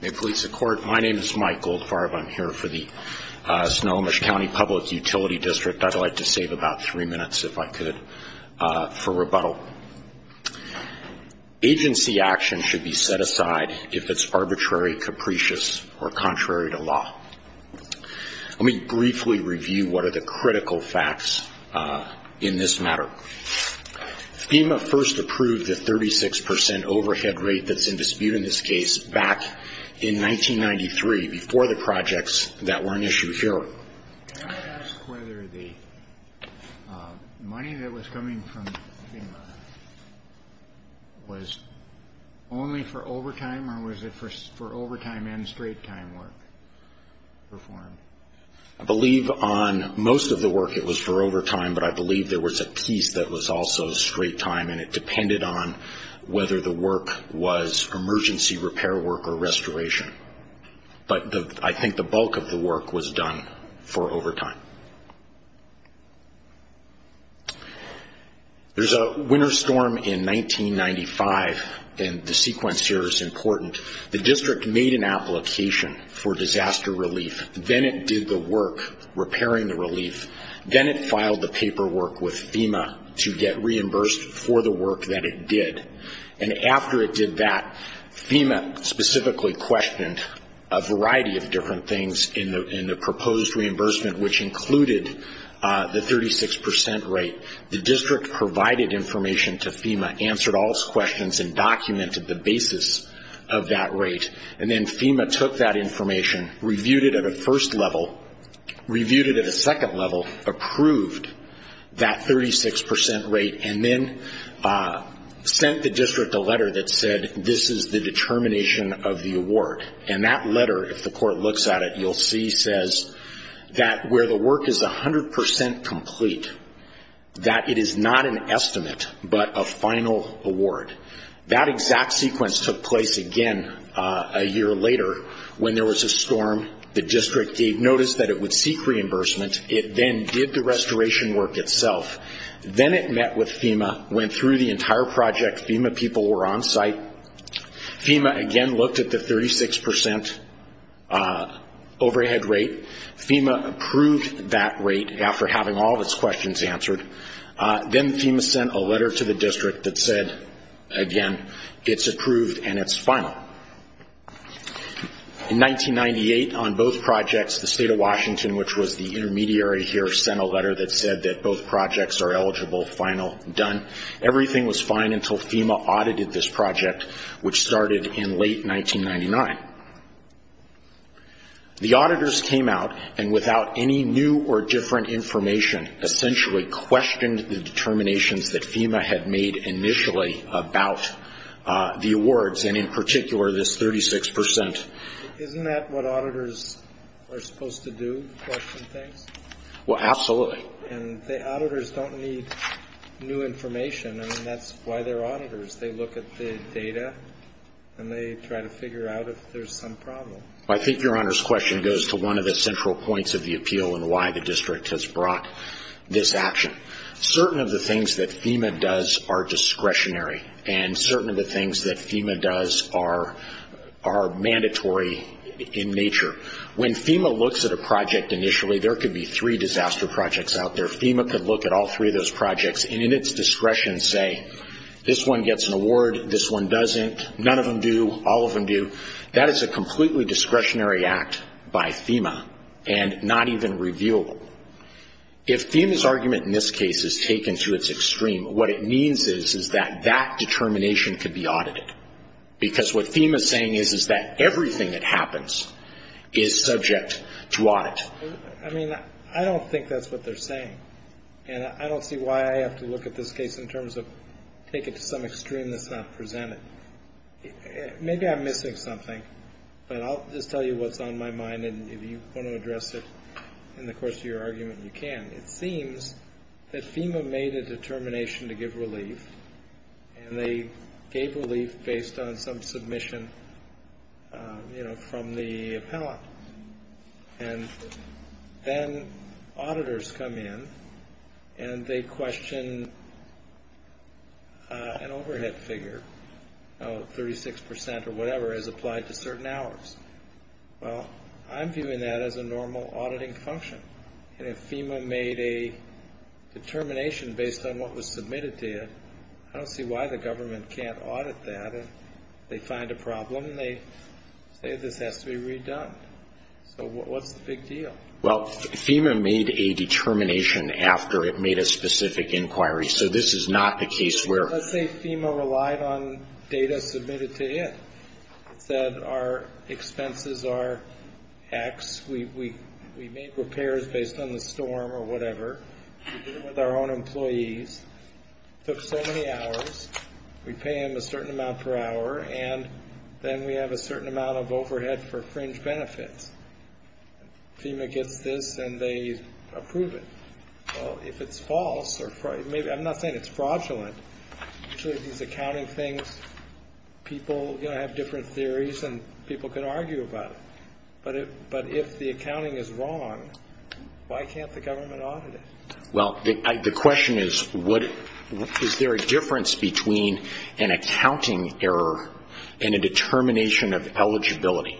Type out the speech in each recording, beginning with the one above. May it please the Court, my name is Mike Goldfarb. I'm here for the Snohomish County Public Utility District. I'd like to save about three minutes, if I could, for rebuttal. Agency action should be set aside if it's arbitrary, capricious, or contrary to law. Let me briefly review what are the critical facts in this matter. FEMA first approved the 36 percent overhead rate that's in dispute in this case back in 1993, before the projects that were in issue here. Can I ask whether the money that was coming from FEMA was only for overtime or was it for overtime and straight-time work performed? I believe on most of the work it was for overtime, but I believe there was a piece that was also straight-time and it was emergency repair work or restoration. But I think the bulk of the work was done for overtime. There's a winter storm in 1995, and the sequence here is important. The District made an application for disaster relief. Then it did the work repairing the relief. Then it filed the paperwork with FEMA to get reimbursed for the work that it did. After it did that, FEMA specifically questioned a variety of different things in the proposed reimbursement, which included the 36 percent rate. The District provided information to FEMA, answered all its questions, and documented the basis of that rate. Then FEMA took that information, reviewed it at a first level, reviewed it at a second level, approved that 36 percent rate, and then sent the District a letter that said, this is the determination of the award. That letter, if the Court looks at it, you'll see says that where the work is 100 percent complete, that it is not an estimate but a final award. That exact sequence took place again a year later when there was a storm. The District noticed that it would seek reimbursement. It then did the restoration work itself. Then it met with FEMA, went through the entire project. FEMA people were on site. FEMA again looked at the 36 percent overhead rate. FEMA approved that rate after having all of its questions answered. Then FEMA sent a letter to the District that said, again, it's approved and it's final. In 1998, on both projects, the State of Washington, which was the intermediary here, sent a letter that said that both projects are eligible, final, done. Everything was fine until FEMA audited this project, which started in late 1999. The auditors came out and without any new or different information, essentially questioned the determinations that FEMA had made initially about the awards, and in particular, this 36 percent. Isn't that what auditors are supposed to do, question things? Well, absolutely. And the auditors don't need new information. I mean, that's why they're auditors. They look at the data and they try to figure out if there's some problem. I think Your Honor's question goes to one of the central points of the appeal and why the District has brought this action. Certain of the things that FEMA does are discretionary and certain of the things that FEMA does are mandatory in nature. When FEMA looks at a project initially, there could be three disaster projects out there. FEMA could look at all three of those projects and in its discretion say, this one gets an award, this one doesn't, none of them do, all of them do. That is a completely discretionary act by FEMA and not even reviewable. If FEMA's argument in this case is taken to its extreme, what it means is that that determination could be audited. Because what FEMA's saying is that everything that happens is subject to audit. I mean, I don't think that's what they're saying. And I don't see why I have to look at it. Maybe I'm missing something, but I'll just tell you what's on my mind and if you want to address it in the course of your argument, you can. It seems that FEMA made a determination to give relief and they gave relief based on some submission from the appellant. And then auditors come in and they question an overhead figure. Oh, the overhead figure. Well, 36% or whatever is applied to certain hours. Well, I'm viewing that as a normal auditing function. And if FEMA made a determination based on what was submitted to it, I don't see why the government can't audit that. If they find a problem, they say this has to be redone. So what's the big deal? Well, FEMA made a determination after it made a specific inquiry. So this is not the case where... Let's say FEMA relied on data submitted to it. It said our expenses are X. We made repairs based on the storm or whatever. We did it with our own employees. It took so many hours. We pay them a certain amount per hour and then we have a certain amount of overhead for fringe benefits. FEMA gets this and they approve it. Well, if it's false, or I'm not saying it's fraudulent, these accounting things, people have different theories and people can argue about it. But if the accounting is wrong, why can't the government audit it? The question is, is there a difference between an accounting error and a determination of eligibility?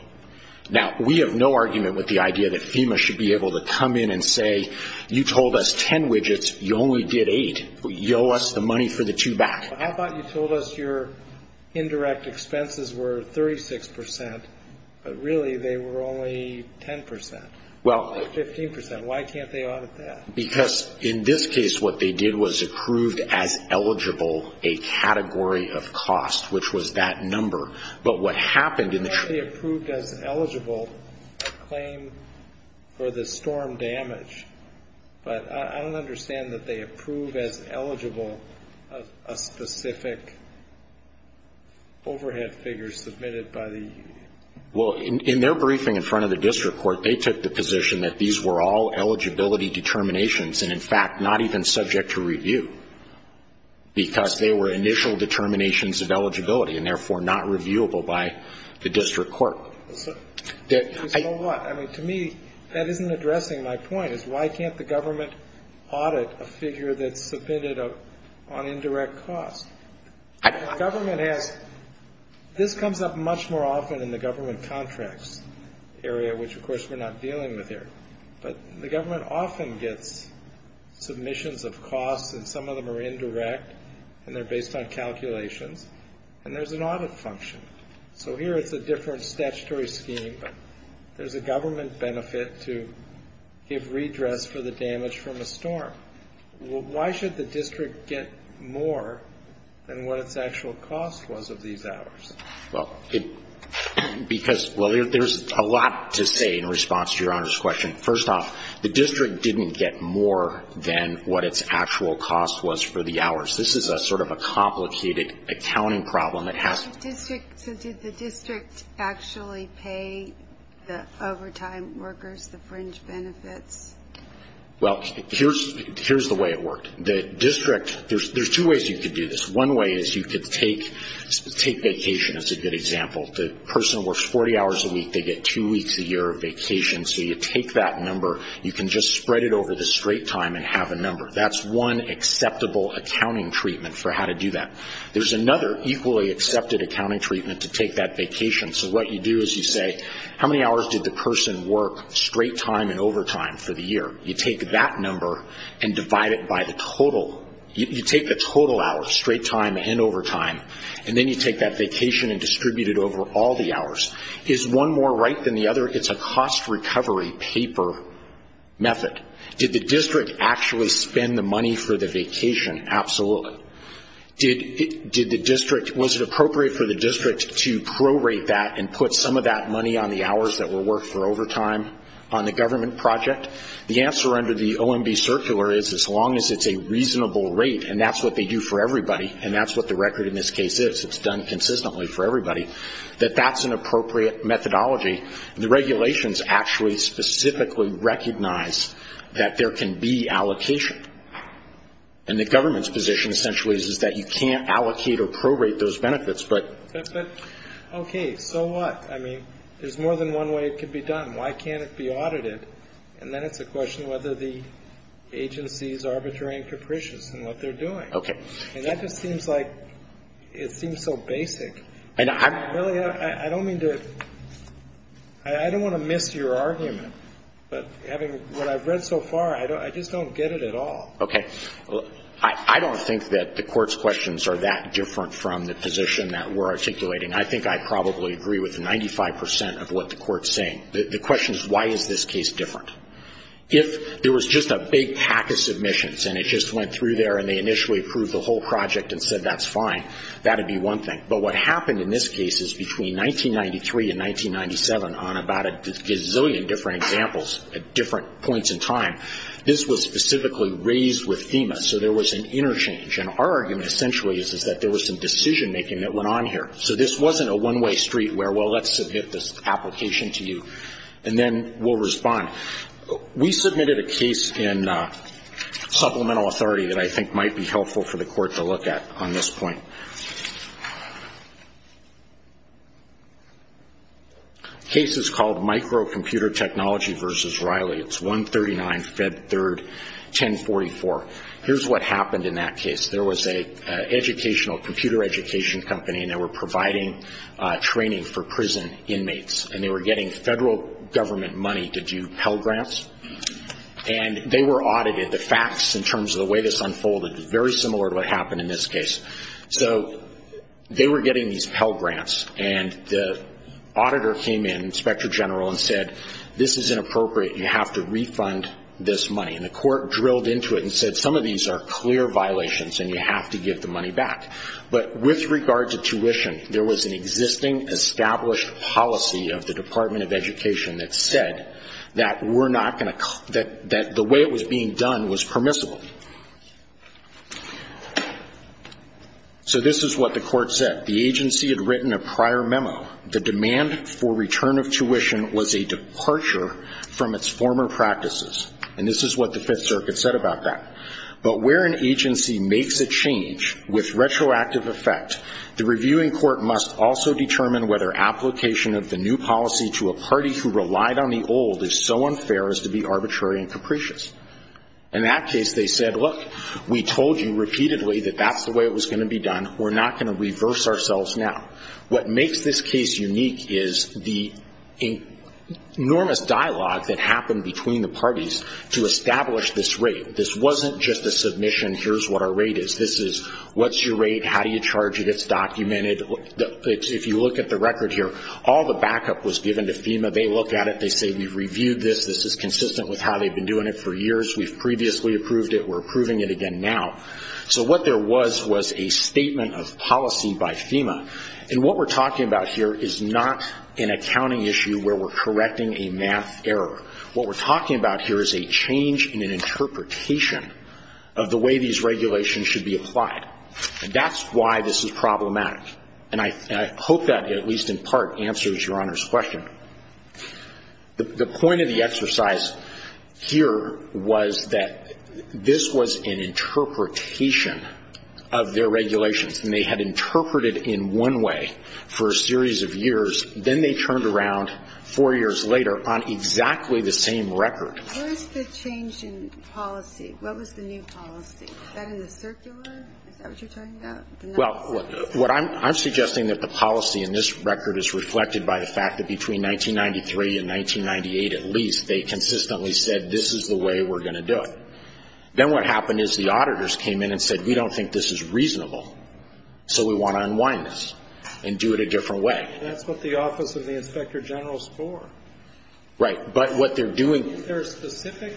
Now, we have no argument with the idea that FEMA should be able to come in and say, you told us 10 widgets, you only did 8. You owe us the money for the two back. I thought you told us your indirect expenses were 36 percent, but really they were only 10 percent. Well... Or 15 percent. Why can't they audit that? Because in this case, what they did was approved as eligible a category of cost, which was that number. But what happened in the... Well, in their briefing in front of the district court, they took the position that these were all eligibility determinations, and in fact, not even subject to review, because they were initial determinations of eligibility and therefore not reviewable by the district court. So, you know what? I mean, to me, that isn't addressing my point, is why can't the government audit a figure that's submitted on indirect cost? Government has... This comes up much more often in the government contracts area, which of course we're not dealing with here. But the government often gets submissions of costs, and some of them are indirect, and they're based on calculations, and there's an audit function. So here it's a different statutory scheme, but there's a government benefit to give redress for the damage from a storm. Why should the district get more than what its actual cost was of these hours? Well, it... Because... Well, there's a lot to say in response to Your Honor's question. First off, the district didn't get more than what its actual cost was for the hours. This is a sort of a complicated accounting problem. It has... So did the district actually pay the overtime workers, the fringe benefits? Well, here's the way it worked. The district... There's two ways you could do this. One way is you could take vacation, is a good example. The person works 40 hours a week, they get two weeks a year of vacation. So you take that number, you can just spread it over the straight time and have a number. That's one acceptable accounting treatment for how to do that. There's another equally accepted accounting treatment to take that vacation. So what you do is you say, how many hours did the person work straight time and overtime for the year? You take that number and divide it by the total. You take the total hours, straight time and overtime, and then you take that vacation and distribute it over all the hours. Is one more right than the other? It's a cost recovery paper method. Did the district actually spend the money for the vacation? Absolutely. Did the district... Was it appropriate for the district to prorate that and put some of that money on the hours that were worked for overtime on the government project? The answer under the OMB circular is as long as it's a reasonable rate, and that's what they do for everybody, and that's what the record in this case is. It's done consistently for everybody. That that's an example of how they specifically recognize that there can be allocation. And the government's position essentially is that you can't allocate or prorate those benefits, but... Okay, so what? I mean, there's more than one way it could be done. Why can't it be audited? And then it's a question of whether the agency is arbitrary and capricious in what they're doing. And that just seems like... It seems so basic. I don't mean to... I don't want to miss your argument, but having what I've read so far, I just don't get it at all. Okay. I don't think that the Court's questions are that different from the position that we're articulating. I think I probably agree with 95 percent of what the Court's saying. The question is why is this case different? If there was just a big pack of submissions and it just went through there and they initially approved the whole project and said that's fine, that would be one thing. But what happened in this case is between 1993 and 1997, on about a gazillion different examples at different points in time, this was specifically raised with FEMA. So there was an interchange. And our argument essentially is that there was some decision-making that went on here. So this wasn't a one-way street where, well, let's submit this application to you and then we'll respond. We submitted a case in supplemental authority that I think might be helpful for the Court to look at on this point. The case is called Microcomputer Technology v. Reilly. It's 139 Fed 3rd 1044. Here's what happened in that case. There was an educational, computer education company and they were providing training for prison inmates. And they were getting federal government money to do Pell Grants. And they were audited. The facts in this case. So they were getting these Pell Grants and the auditor came in, Inspector General, and said this is inappropriate. You have to refund this money. And the Court drilled into it and said some of these are clear violations and you have to give the money back. But with regard to tuition, there was an existing established policy of the Department of Education that said that the way it was being done was permissible. So this is what the Court said. The agency had written a prior memo. The demand for return of tuition was a departure from its former practices. And this is what the Fifth Circuit said about that. But where an agency makes a change with retroactive effect, the reviewing court must also determine whether application of the new policy to a party who relied on the old is so unfair as to be arbitrary and capricious. In that case, they said, look, we told you repeatedly that that's the way it was going to be done. We're not going to reverse ourselves now. What makes this case unique is the enormous dialogue that happened between the parties to establish this rate. This wasn't just a submission, here's what our rate is. This is what's your rate, how do you charge it, it's documented. If you look at the record here, all the backup was given to FEMA. They look at it, they say we've reviewed this, this is consistent with how they've been doing it for years. We've previously approved it, we're approving it again now. So what there was was a statement of policy by FEMA. And what we're talking about here is not an accounting issue where we're correcting a math error. What we're talking about here is a change in an interpretation of the way these regulations should be applied. And that's why this is problematic. And I hope that at least in part answers Your Honor's question. The point of the exercise here was that the this was an interpretation of their regulations. And they had interpreted in one way for a series of years. Then they turned around four years later on exactly the same record. Where is the change in policy? What was the new policy? Is that in the circular? Is that what you're talking about? Well, what I'm suggesting that the policy in this record is reflected by the fact that between 1993 and 1998 at least, they consistently said this is the way we're going to do it. Then what happened is the auditors came in and said we don't think this is reasonable. So we want to unwind this and do it a different way. That's what the Office of the Inspector General is for. Right. But what they're doing Is there a specific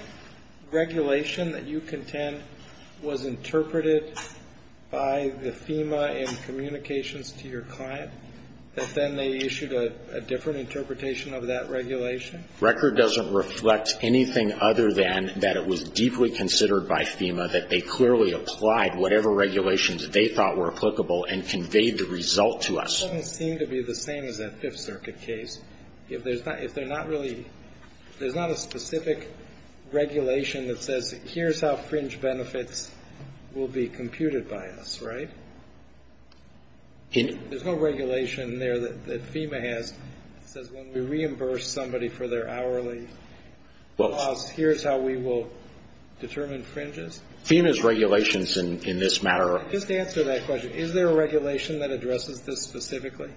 regulation that you contend was interpreted by the FEMA in communications to your client that then they issued a different interpretation of that regulation? Record doesn't reflect anything other than that it was deeply considered by FEMA that they clearly applied whatever regulations they thought were applicable and conveyed the result to us. It doesn't seem to be the same as that Fifth Circuit case. If there's not a specific regulation that says here's how fringe benefits will be computed by us, right? There's no regulation there that FEMA has that says when we reimburse somebody for their hourly costs, here's how we will determine fringes? FEMA's regulations in this matter Just answer that question. Is there a regulation that addresses this specifically?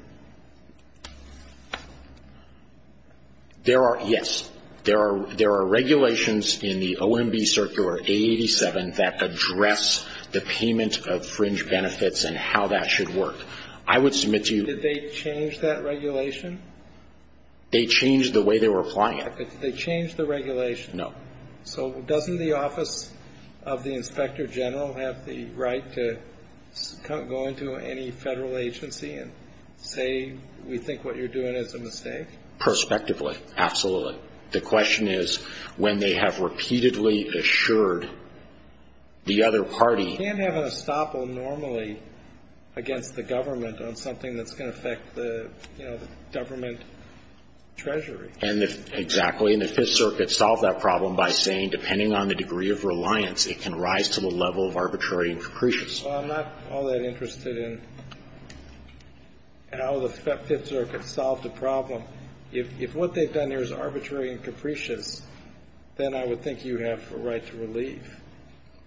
There are, yes. There are regulations in the OMB Circular A87 that address the payment of fringe benefits and how that should work. I would submit to you Did they change that regulation? They changed the way they were applying it. They changed the regulation? No. So doesn't the Office of the Inspector General have the right to go into any federal agency and say we think what you're doing is a mistake? Perspectively, absolutely. The question is when they have repeatedly assured the other party You can't have an estoppel normally against the government on something that's going to affect the government treasury. And if, exactly, and the Fifth Circuit solved that problem by saying depending on the degree of reliance, it can rise to the level of arbitrary and capricious. Well, I'm not all that interested in how the Fifth Circuit solved the problem. If what they've done here is arbitrary and capricious, then I would think you have a right to relieve.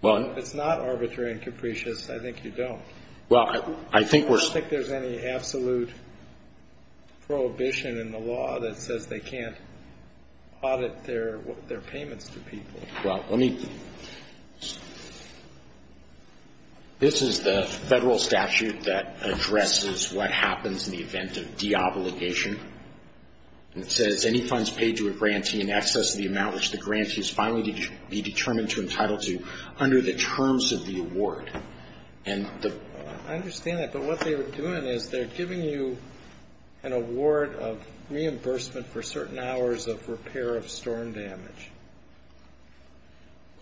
If it's not arbitrary and capricious, I think you don't. Well, I think we're I don't think there's any absolute prohibition in the law that says they can't audit their payments to people. This is the federal statute that addresses what happens in the event of deobligation. It says any funds paid to a grantee in excess of the amount which the grantee is finally be determined to entitle to under the terms of the award. I understand that, but what they were doing is they're giving you an award of reimbursement for certain hours of repair of storm damage.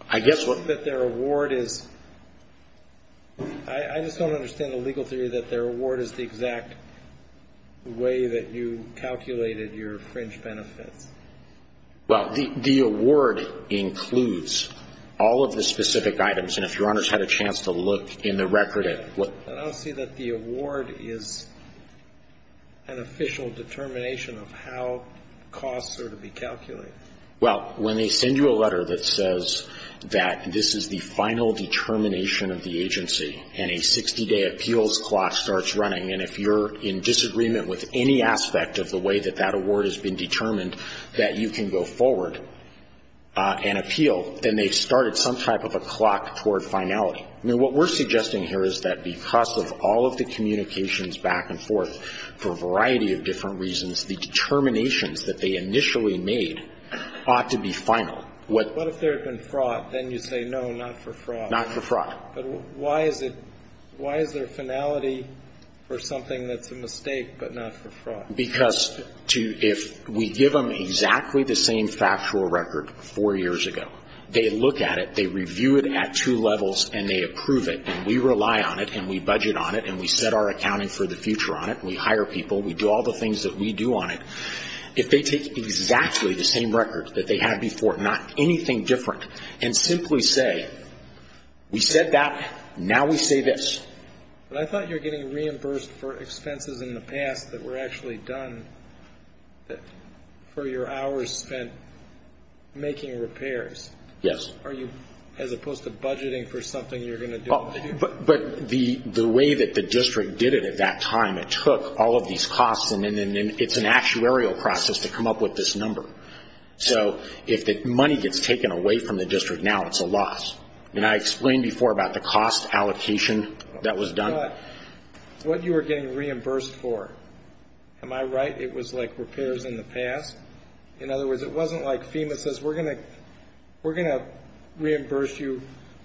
I guess what That their award is, I just don't understand the legal theory that their award is the exact way that you calculated your fringe benefits. Well, the award includes all of the specific items, and if Your Honors had a chance to look in the record at what But I don't see that the award is an official determination of how costs are to be calculated. Well, when they send you a letter that says that this is the final determination of the agency and a 60-day appeals clock starts running, and if you're in disagreement with any aspect of the way that that award has been determined that you can go forward and appeal, then they started some type of a clock toward finality. I mean, what we're suggesting here is that because of all of the communications back and forth for a variety of different reasons, the determinations that they initially made ought to be final. What if there had been fraud? Then you say no, not for fraud. Not for fraud. Why is there finality for something that's a mistake, but not for fraud? Because if we give them exactly the same factual record four years ago, they look at it, they review it at two levels, and they approve it, and we rely on it, and we budget on it, and we set our accounting for the future on it, and we hire people, we do all the things that we do on it. If they take exactly the same record that they had before, not anything different, and simply say, we said that, now we say this. I thought you were getting reimbursed for expenses in the past that were actually done for your hours spent making repairs. Yes. As opposed to budgeting for something you're going to do. But the way that the district did it at that time, it took all of these costs, and it's an actuarial process to come up with this number. So if the money gets taken away from the district now, it's a loss. I explained before about the cost allocation that was done. What you were getting reimbursed for, am I right? It was like repairs in the past? In other words, it wasn't like FEMA says, we're going to reimburse you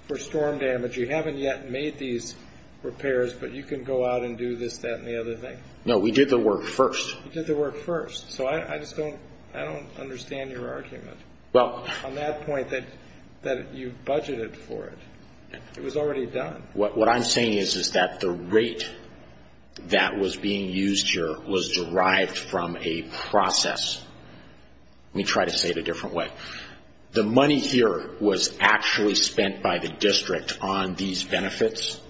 for storm damage. You haven't yet made these repairs, but you can go out and do this, that, and the other thing? No, we did the work first. You did the work first. So I just don't understand your argument. On that point, that you budgeted for it, it was already done. What I'm saying is that the rate that was being used here was derived from a process. We try to say it a different way. The money here was actually spent by the district on these benefits.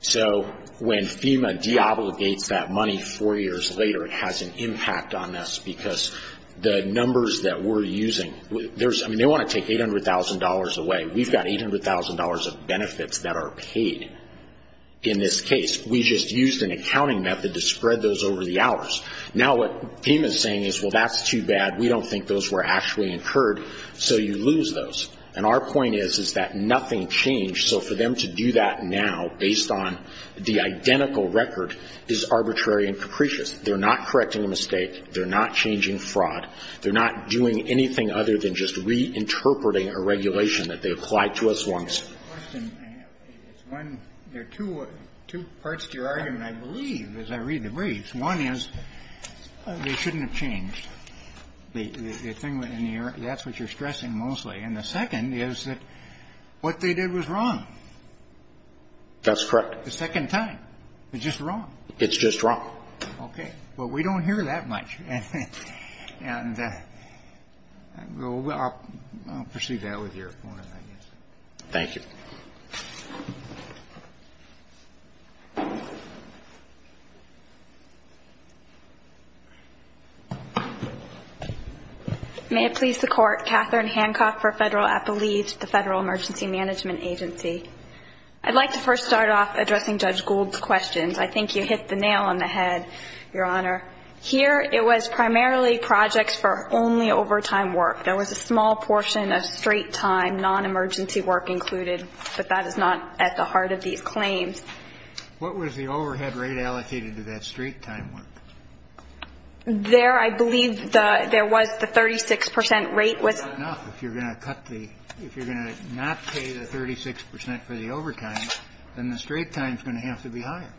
So when FEMA deobligates that money four years later, it has an impact on us because the district wants to take $800,000 away. We've got $800,000 of benefits that are paid in this case. We just used an accounting method to spread those over the hours. Now what FEMA is saying is that's too bad, we don't think those were actually incurred, so you lose those. Our point is that nothing changed, so for them to do that now based on the identical record is arbitrary and capricious. They're not correcting a mistake, they're not changing fraud, they're not doing anything other than just reinterpreting a regulation that they applied to us once. There are two parts to your argument, I believe, as I read the briefs. One is they shouldn't have changed. That's what you're stressing mostly. And the second is that what they did was wrong. That's correct. The second time. It's just wrong. It's just wrong. Okay. Well, we don't hear that much. And I'll proceed with that with your point of view. Thank you. May it please the Court, Catherine Hancock for Federal Appellees, the Federal Emergency Management Agency. I'd like to first start off addressing Judge Gould's questions. I think you hit the nail on the head, Your Honor. Here it was primarily projects for only overtime work. There was a small portion of straight time, non-emergency work included. But that is not at the heart of these claims. What was the overhead rate allocated to that straight time work? There, I believe, there was the 36 percent rate was. That's not enough. If you're going to cut the, if you're going to not pay the 36 percent for the overtime, then the straight time is going to have to be higher.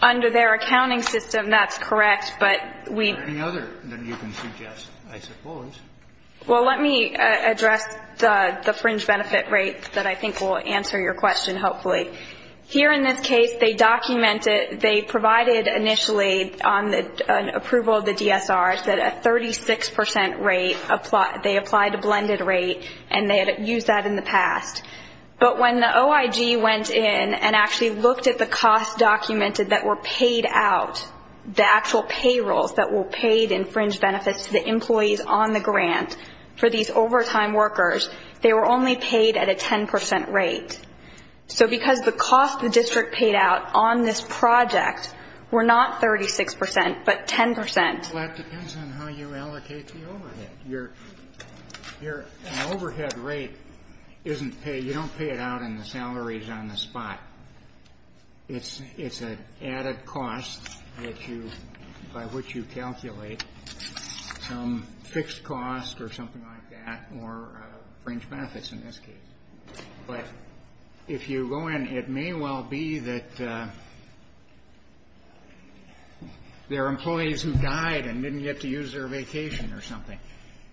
Under their accounting system, that's correct. But we... Is there any other that you can suggest, I suppose? Well, let me address the fringe benefit rate that I think will answer your question, hopefully. Here in this case, they documented, they provided initially on the approval of the DSRs that a 36 percent rate, they applied a blended rate, and they had used that in the past. But when the OIG went in and actually looked at the costs documented that were paid out, the actual payrolls that were paid in fringe benefits to the employees on the grant, for these overtime workers, they were only paid at a 10 percent rate. So because the cost the district paid out on this project were not 36 percent, but 10 percent. Well, that depends on how you allocate the overhead. An overhead rate isn't paid, you don't pay it out and the salary is on the spot. It's an added cost that you, by which you calculate some fixed cost or something like that, or fringe benefits in this case. But if you go in, it may well be that there are employees who died and didn't get to use their vacation or something.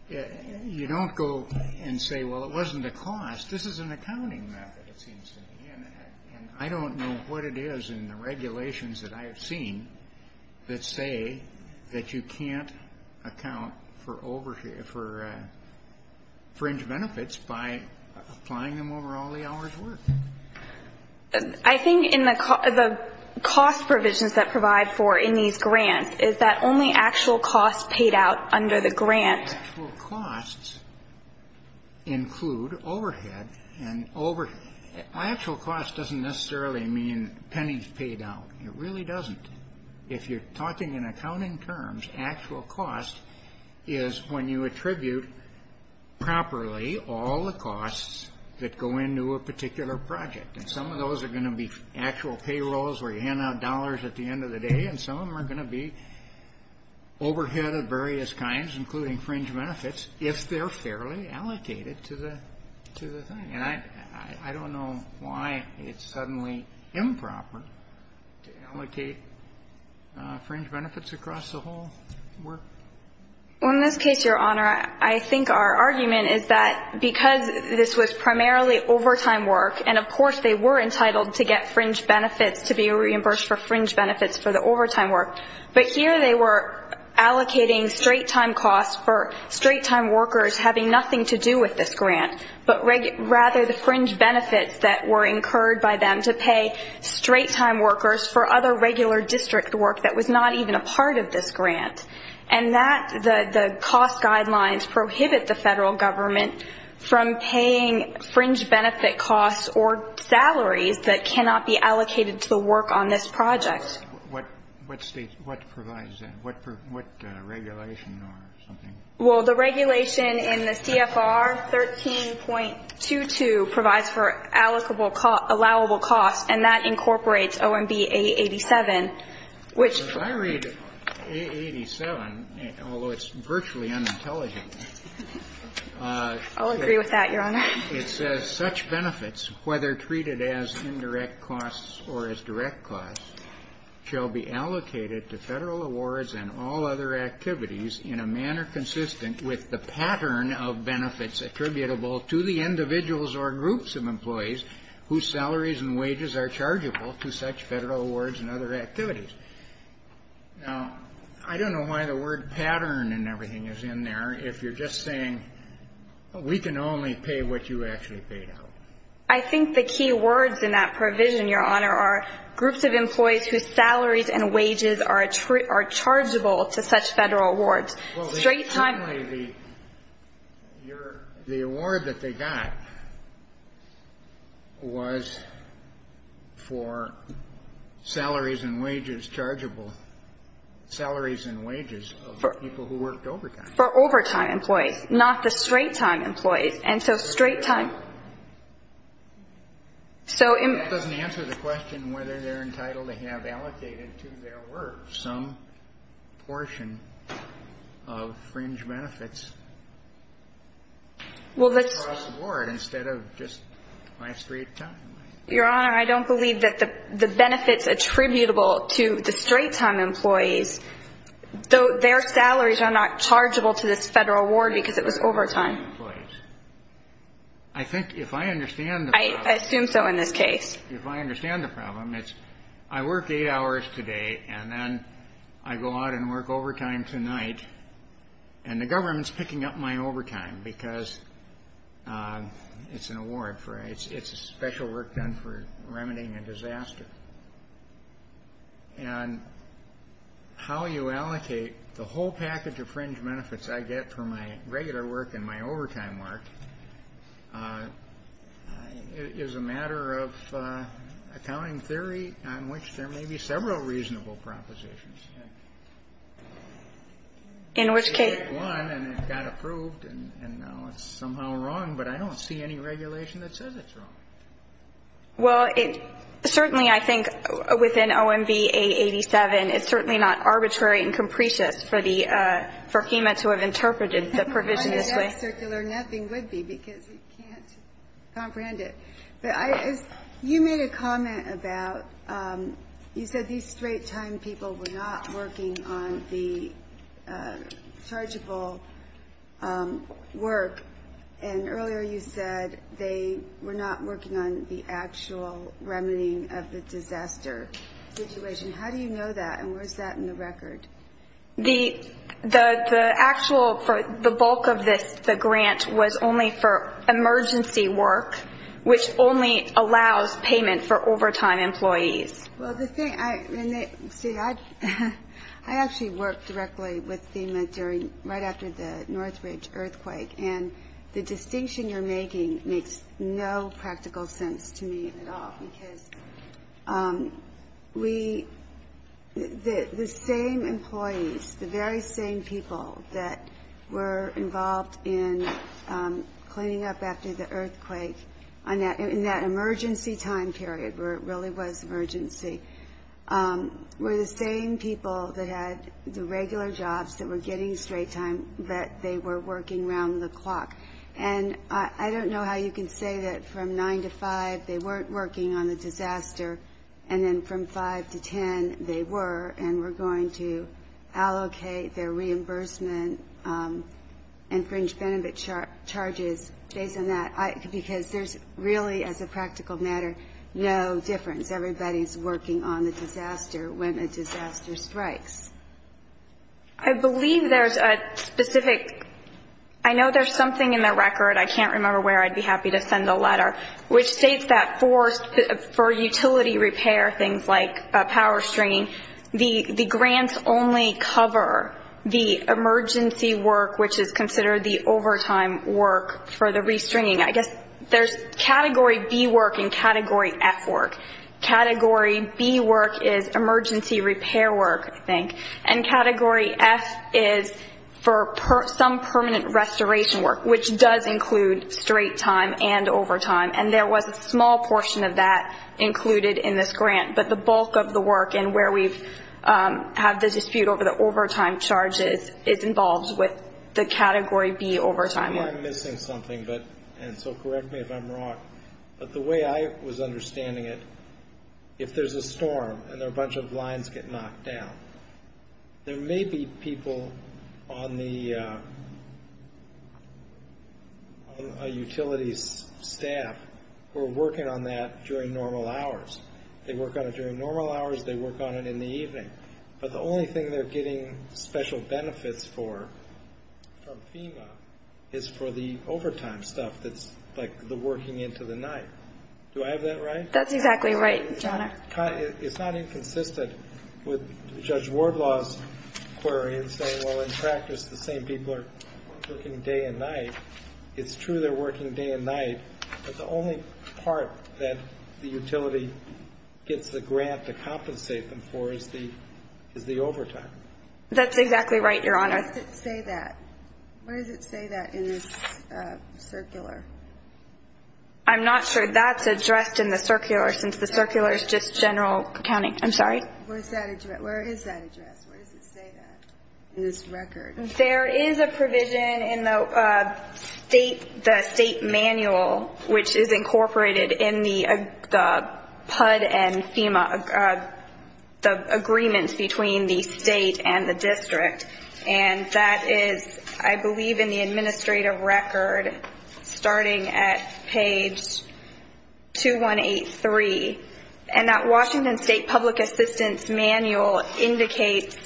You don't go and say, well, it wasn't a cost. This is an accounting method, it seems to me. And I don't know what it is in the regulations that I have seen that say that you can't account for fringe benefits by applying them over all the hours worked. I think in the cost provisions that provide for in these grants is that only actual costs paid out under the grant. Actual costs include overhead and overhead. Actual cost doesn't necessarily mean pennies paid out. It really doesn't. If you're talking in accounting terms, is when you attribute properly all the costs that go into a particular project. And some of those are going to be actual payrolls where you hand out dollars at the end of the day, and some of them are going to be overhead of various kinds, including fringe benefits, if they're fairly allocated to the thing. And I don't know why it's suddenly improper to allocate fringe benefits across the whole work. Well, in this case, Your Honor, I think our argument is that because this was primarily overtime work, and of course they were entitled to get fringe benefits to be reimbursed for fringe benefits for the overtime work. But here they were allocating straight-time costs for straight-time workers having nothing to do with this grant, but rather the fringe benefits that were incurred by them to pay straight-time workers for other regular district work that was not even a part of this grant. And the cost guidelines prohibit the federal government from paying fringe benefit costs or salaries that cannot be allocated to the work on this project. What provides that? What regulation or something? Well, the regulation in the CFR 13.22 provides for allowable costs, and that incorporates OMB A87, which ---- If I read A87, although it's virtually unintelligent ---- I'll agree with that, Your Honor. It says such benefits, whether treated as indirect costs or as direct costs, shall be allocated to federal awards and all other activities in a manner consistent with the pattern of benefits attributable to the individuals or groups of employees whose salaries and wages are chargeable to such federal awards and other activities. Now, I don't know why the word pattern and everything is in there if you're just saying we can only pay what you actually paid out. I think the key words in that provision, Your Honor, are groups of employees whose salaries and wages are chargeable to such federal awards. Well, the award that they got was for salaries and wages chargeable, salaries and wages of people who worked overtime. For overtime employees, not the straight-time employees. And so straight-time ---- That doesn't answer the question whether they're entitled to have allocated to their work some portion of fringe benefits across the board instead of just by straight-time. Your Honor, I don't believe that the benefits attributable to the straight-time employees, though their salaries are not chargeable to this federal award because it was overtime. Straight-time employees. I think if I understand the problem ---- I assume so in this case. If I understand the problem, it's I work eight hours today and then I go out and work overtime tonight and the government's picking up my overtime because it's an award for ---- it's a special work done for remedying a disaster. And how you allocate the whole package of fringe benefits I get for my regular work and my overtime work is a matter of accounting theory on which there may be several reasonable propositions. In which case ---- One, and it got approved, and now it's somehow wrong, but I don't see any regulation that says it's wrong. Well, it certainly, I think, within OMB 887, it's certainly not arbitrary and capricious for HEMA to have interpreted the provision this way. Nothing would be because we can't comprehend it. But you made a comment about you said these straight-time people were not working on the chargeable work, and earlier you said they were not working on the actual remedying of the disaster situation. How do you know that, and where's that in the record? The actual, the bulk of this, the grant, was only for emergency work, which only allows payment for overtime employees. Well, the thing, see, I actually worked directly with HEMA right after the Northridge earthquake, and the distinction you're making makes no practical sense to me at all, because we, the same employees, the very same people that were involved in cleaning up after the earthquake, in that emergency time period where it really was emergency, were the same people that had the regular jobs that were getting straight time, but they were working around the clock. And I don't know how you can say that from 9 to 5 they weren't working on the disaster, and then from 5 to 10 they were, and were going to allocate their reimbursement and fringe benefit charges based on that. Because there's really, as a practical matter, no difference. Everybody's working on the disaster when a disaster strikes. I believe there's a specific, I know there's something in the record, I can't remember where, I'd be happy to send a letter, which states that for utility repair, things like power stringing, the grants only cover the emergency work, which is considered the overtime work for the restringing. I guess there's Category B work and Category F work. Category B work is emergency repair work, I think, and Category F is for some permanent restoration work, which does include straight time and overtime. And there was a small portion of that included in this grant, but the bulk of the work and where we have the dispute over the overtime charges is involved with the Category B overtime work. I know I'm missing something, and so correct me if I'm wrong, but the way I was understanding it, if there's a storm and a bunch of lines get knocked down, there may be people on a utility's staff who are working on that during normal hours. They work on it during normal hours, they work on it in the evening. But the only thing they're getting special benefits for from FEMA is for the overtime stuff, that's like the working into the night. Do I have that right? That's exactly right, John. It's not inconsistent with Judge Wardlaw's query and saying, well, in practice, the same people are working day and night. It's true they're working day and night, but the only part that the utility gets the grant to compensate them for is the overtime. That's exactly right, Your Honor. Where does it say that? Where does it say that in this circular? I'm not sure. That's addressed in the circular, since the circular is just general accounting. I'm sorry? Where is that addressed? Where does it say that in this record? There is a provision in the state manual, which is incorporated in the PUD and FEMA agreements between the state and the district. And that is, I believe, in the administrative record, starting at page 2183. And that Washington State Public Assistance Manual indicates,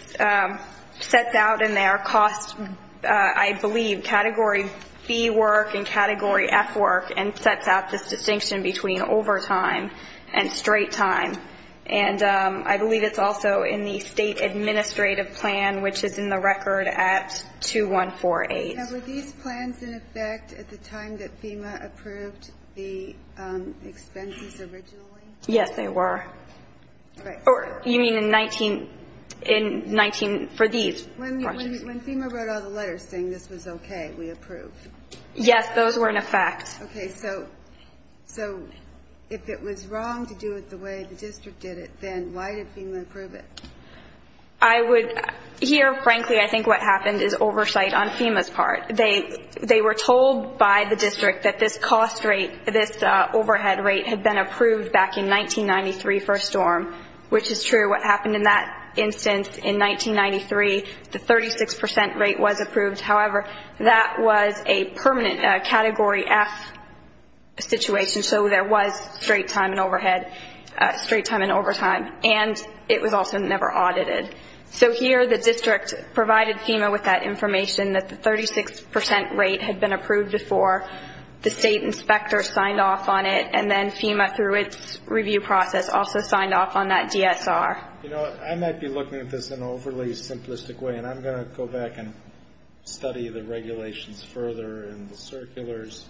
sets out in there, costs, I believe, category B work and category F work, and sets out this distinction between overtime and straight time. And I believe it's also in the state administrative plan, which is in the record at 2148. Now, were these plans in effect at the time that FEMA approved the expenses originally? Yes, they were. You mean in 19, for these? When FEMA wrote all the letters saying this was okay, we approved. Yes, those were in effect. Okay. So if it was wrong to do it the way the district did it, then why did FEMA approve it? Here, frankly, I think what happened is oversight on FEMA's part. They were told by the district that this cost rate, this overhead rate, had been approved back in 1993 for a storm, which is true. What happened in that instance in 1993, the 36 percent rate was approved. However, that was a permanent category F situation, so there was straight time and overtime. And it was also never audited. So here the district provided FEMA with that information that the 36 percent rate had been approved before. The state inspector signed off on it, and then FEMA, through its review process, also signed off on that DSR. You know, I might be looking at this in an overly simplistic way, and I'm going to go back and study the regulations further and the circulars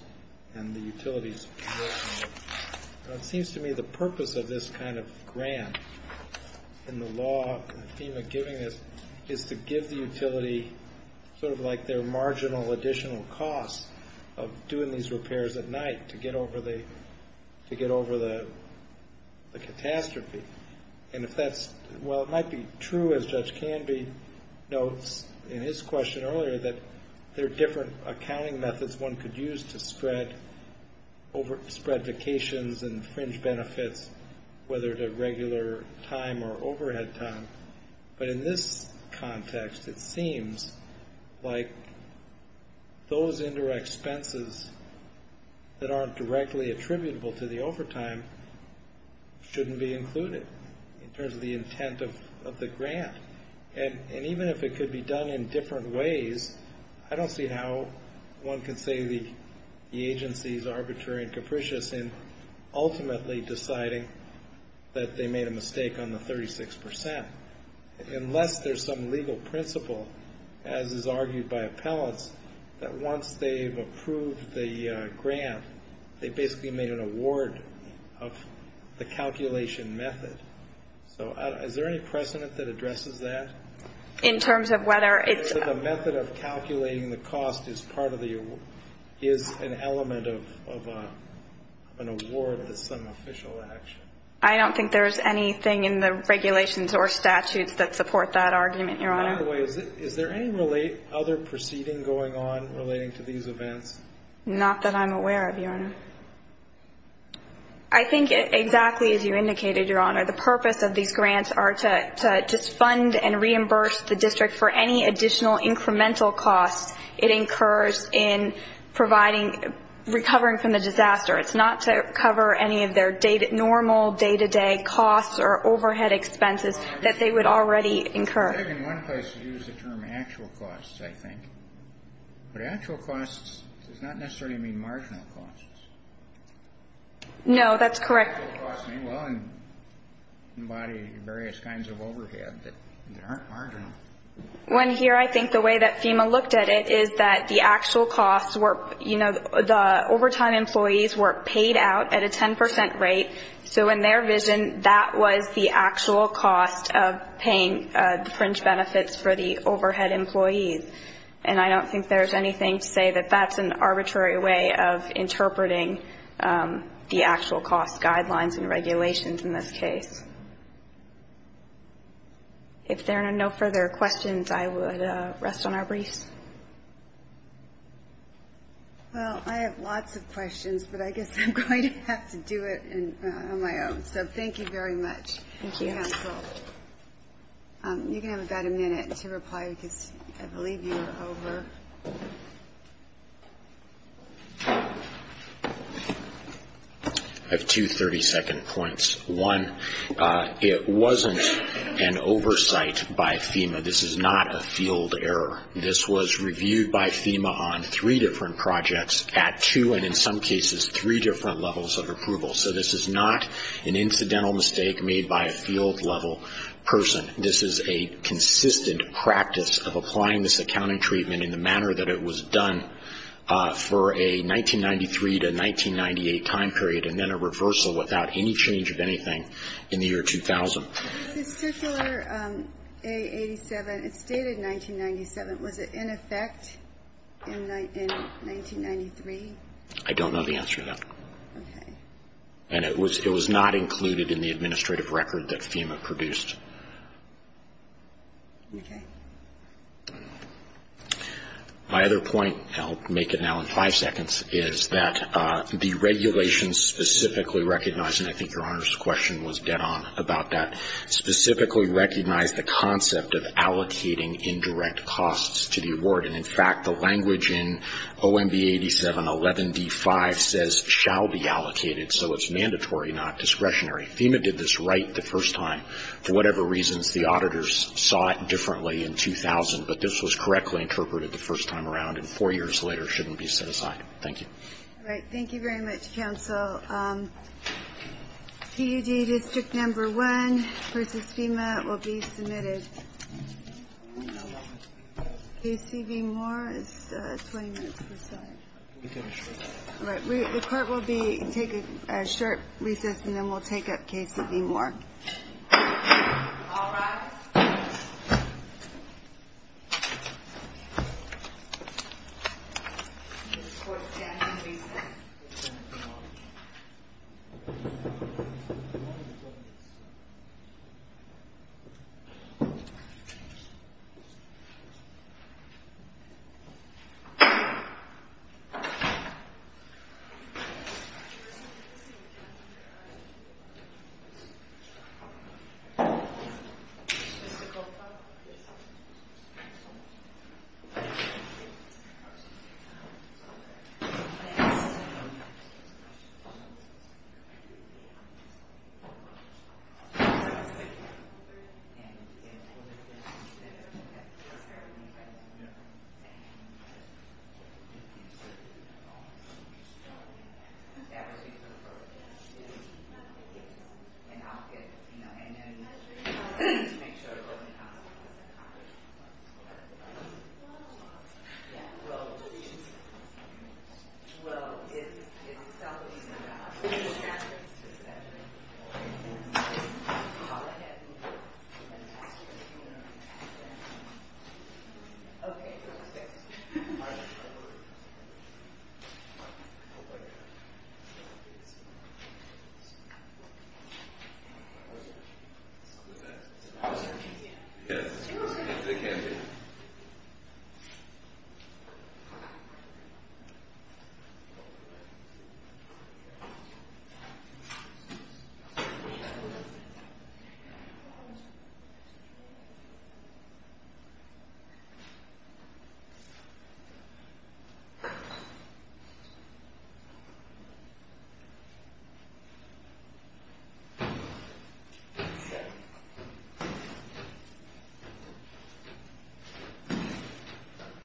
and the utilities. It seems to me the purpose of this kind of grant and the law, FEMA giving this, is to give the utility sort of like their marginal additional costs of doing these repairs at night to get over the catastrophe. And if that's – well, it might be true, as Judge Canby notes in his question earlier, that there are different accounting methods one could use to spread vacations and fringe benefits, whether it's a regular time or overhead time. But in this context, it seems like those indirect expenses that aren't directly attributable to the overtime shouldn't be included in terms of the intent of the grant. And even if it could be done in different ways, I don't see how one could say the agency is arbitrary and capricious in ultimately deciding that they made a mistake on the 36 percent, unless there's some legal principle, as is argued by appellants, that once they've approved the grant, they basically made an award of the calculation method. So is there any precedent that addresses that? In terms of whether it's – The method of calculating the cost is part of the – is an element of an award that's some official action. I don't think there's anything in the regulations or statutes that support that argument, Your Honor. By the way, is there any other proceeding going on relating to these events? Not that I'm aware of, Your Honor. I think exactly as you indicated, Your Honor, the purpose of these grants are to fund and reimburse the district for any additional incremental costs it incurs in providing – recovering from the disaster. It's not to cover any of their normal day-to-day costs or overhead expenses that they would already incur. It's hard in one place to use the term actual costs, I think. But actual costs does not necessarily mean marginal costs. No, that's correct. Actual costs may well embody various kinds of overhead that aren't marginal. When here, I think the way that FEMA looked at it is that the actual costs were – you know, the overtime employees were paid out at a 10 percent rate. So in their vision, that was the actual cost of paying the fringe benefits for the overhead employees. And I don't think there's anything to say that that's an arbitrary way of interpreting the actual cost guidelines and regulations in this case. If there are no further questions, I would rest on our briefs. Well, I have lots of questions, but I guess I'm going to have to do it on my own. So thank you very much. Thank you, counsel. You can have about a minute to reply because I believe you are over. I have two 30-second points. One, it wasn't an oversight by FEMA. This is not a field error. This was reviewed by FEMA on three different projects at two and in some cases three different levels of approval. So this is not an incidental mistake made by a field-level person. This is a consistent practice of applying this accounting treatment in the manner that it was done for a 1993 to 1998 time period and then a reversal without any change of anything in the year 2000. This is Circular A87. It's dated 1997. Was it in effect in 1993? I don't know the answer to that. Okay. And it was not included in the administrative record that FEMA produced. Okay. My other point, and I'll make it now in five seconds, is that the regulations specifically recognize, and I think Your Honor's question was dead on about that, specifically recognize the concept of allocating indirect costs to the award. And, in fact, the language in OMB 8711D5 says, shall be allocated, so it's mandatory, not discretionary. FEMA did this right the first time. For whatever reasons, the auditors saw it differently in 2000, but this was correctly interpreted the first time around and four years later shouldn't be set aside. Thank you. All right. Thank you very much, counsel. PUD District Number 1 versus FEMA will be submitted. KCV Moore is 20 minutes. All right. The court will take a short recess and then we'll take up KCV Moore. All rise. Thank you. Thank you. Thank you. Thank you.